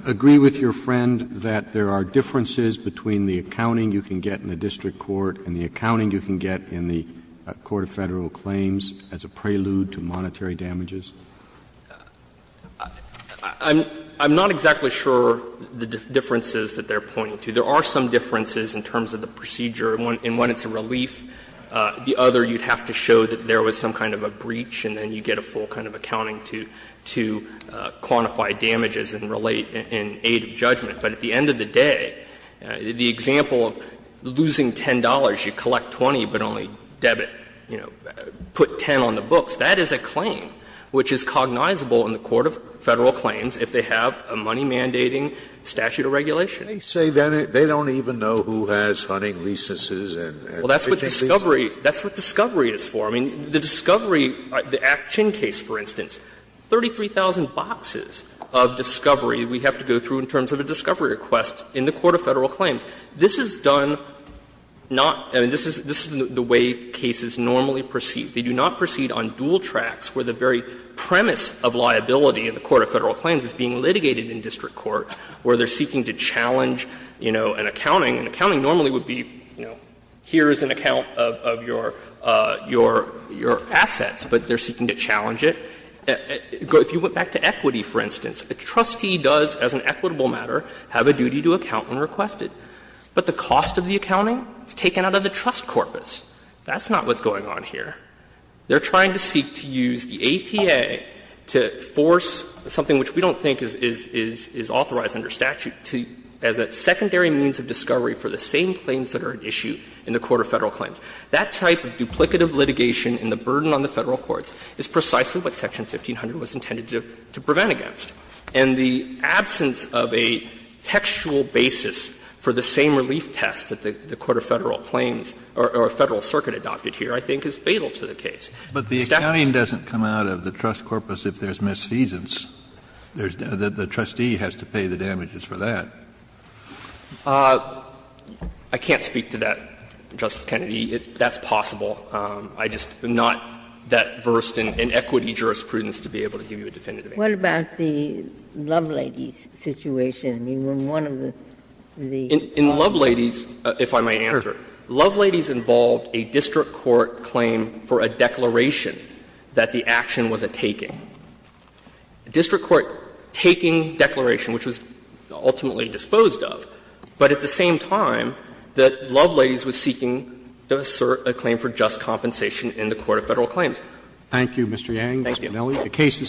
agree with your friend that there are differences between the accounting you can get in the district court and the accounting you can get in the court of Federal claims as a prelude to monetary damages? I'm not exactly sure the differences that they're pointing to. There are some differences in terms of the procedure. In one, it's a relief. The other, you'd have to show that there was some kind of a breach, and then you get a full kind of accounting to quantify damages and relate in aid of judgment. But at the end of the day, the example of losing $10, you collect 20, but only debit put 10 on the books, that is a claim which is cognizable in the court of Federal claims if they have a money-mandating statute of regulation. Scalia, They say then they don't even know who has hunting licenses and fishing Well, that's what discovery is for. I mean, the discovery, the action case, for instance, 33,000 boxes of discovery we have to go through in terms of a discovery request in the court of Federal claims. This is done not, I mean, this is the way cases normally proceed. They do not proceed on dual tracks where the very premise of liability in the court of Federal claims is being litigated in district court, where they are seeking to challenge, you know, an accounting, and accounting normally would be, you know, here is an account of your assets, but they are seeking to challenge it. If you went back to equity, for instance, a trustee does, as an equitable matter, have a duty to account and request it. But the cost of the accounting is taken out of the trust corpus. That's not what's going on here. They are trying to seek to use the APA to force something which we don't think is authorized under statute as a secondary means of discovery for the same claims that are at issue in the court of Federal claims. That type of duplicative litigation and the burden on the Federal courts is precisely what section 1500 was intended to prevent against. And the absence of a textual basis for the same relief test that the court of Federal claims or Federal circuit adopted here, I think, is fatal to the case. Kennedy, but the accounting doesn't come out of the trust corpus if there is misfeasance. The trustee has to pay the damages for that. Yang, I can't speak to that, Justice Kennedy. That's possible. I just am not that versed in equity jurisprudence to be able to give you a definitive answer. Ginsburg, what about the Loveladies situation? In Loveladies, if I may answer, Loveladies involved a district court claim for a declaration that the action wasn't taking. A district court taking declaration, which was ultimately disposed of, but at the same time that Loveladies was seeking to assert a claim for just compensation in the court of Federal claims. Thank you, Mr. Yang. Thank you. Mr. Monelli, the case is submitted.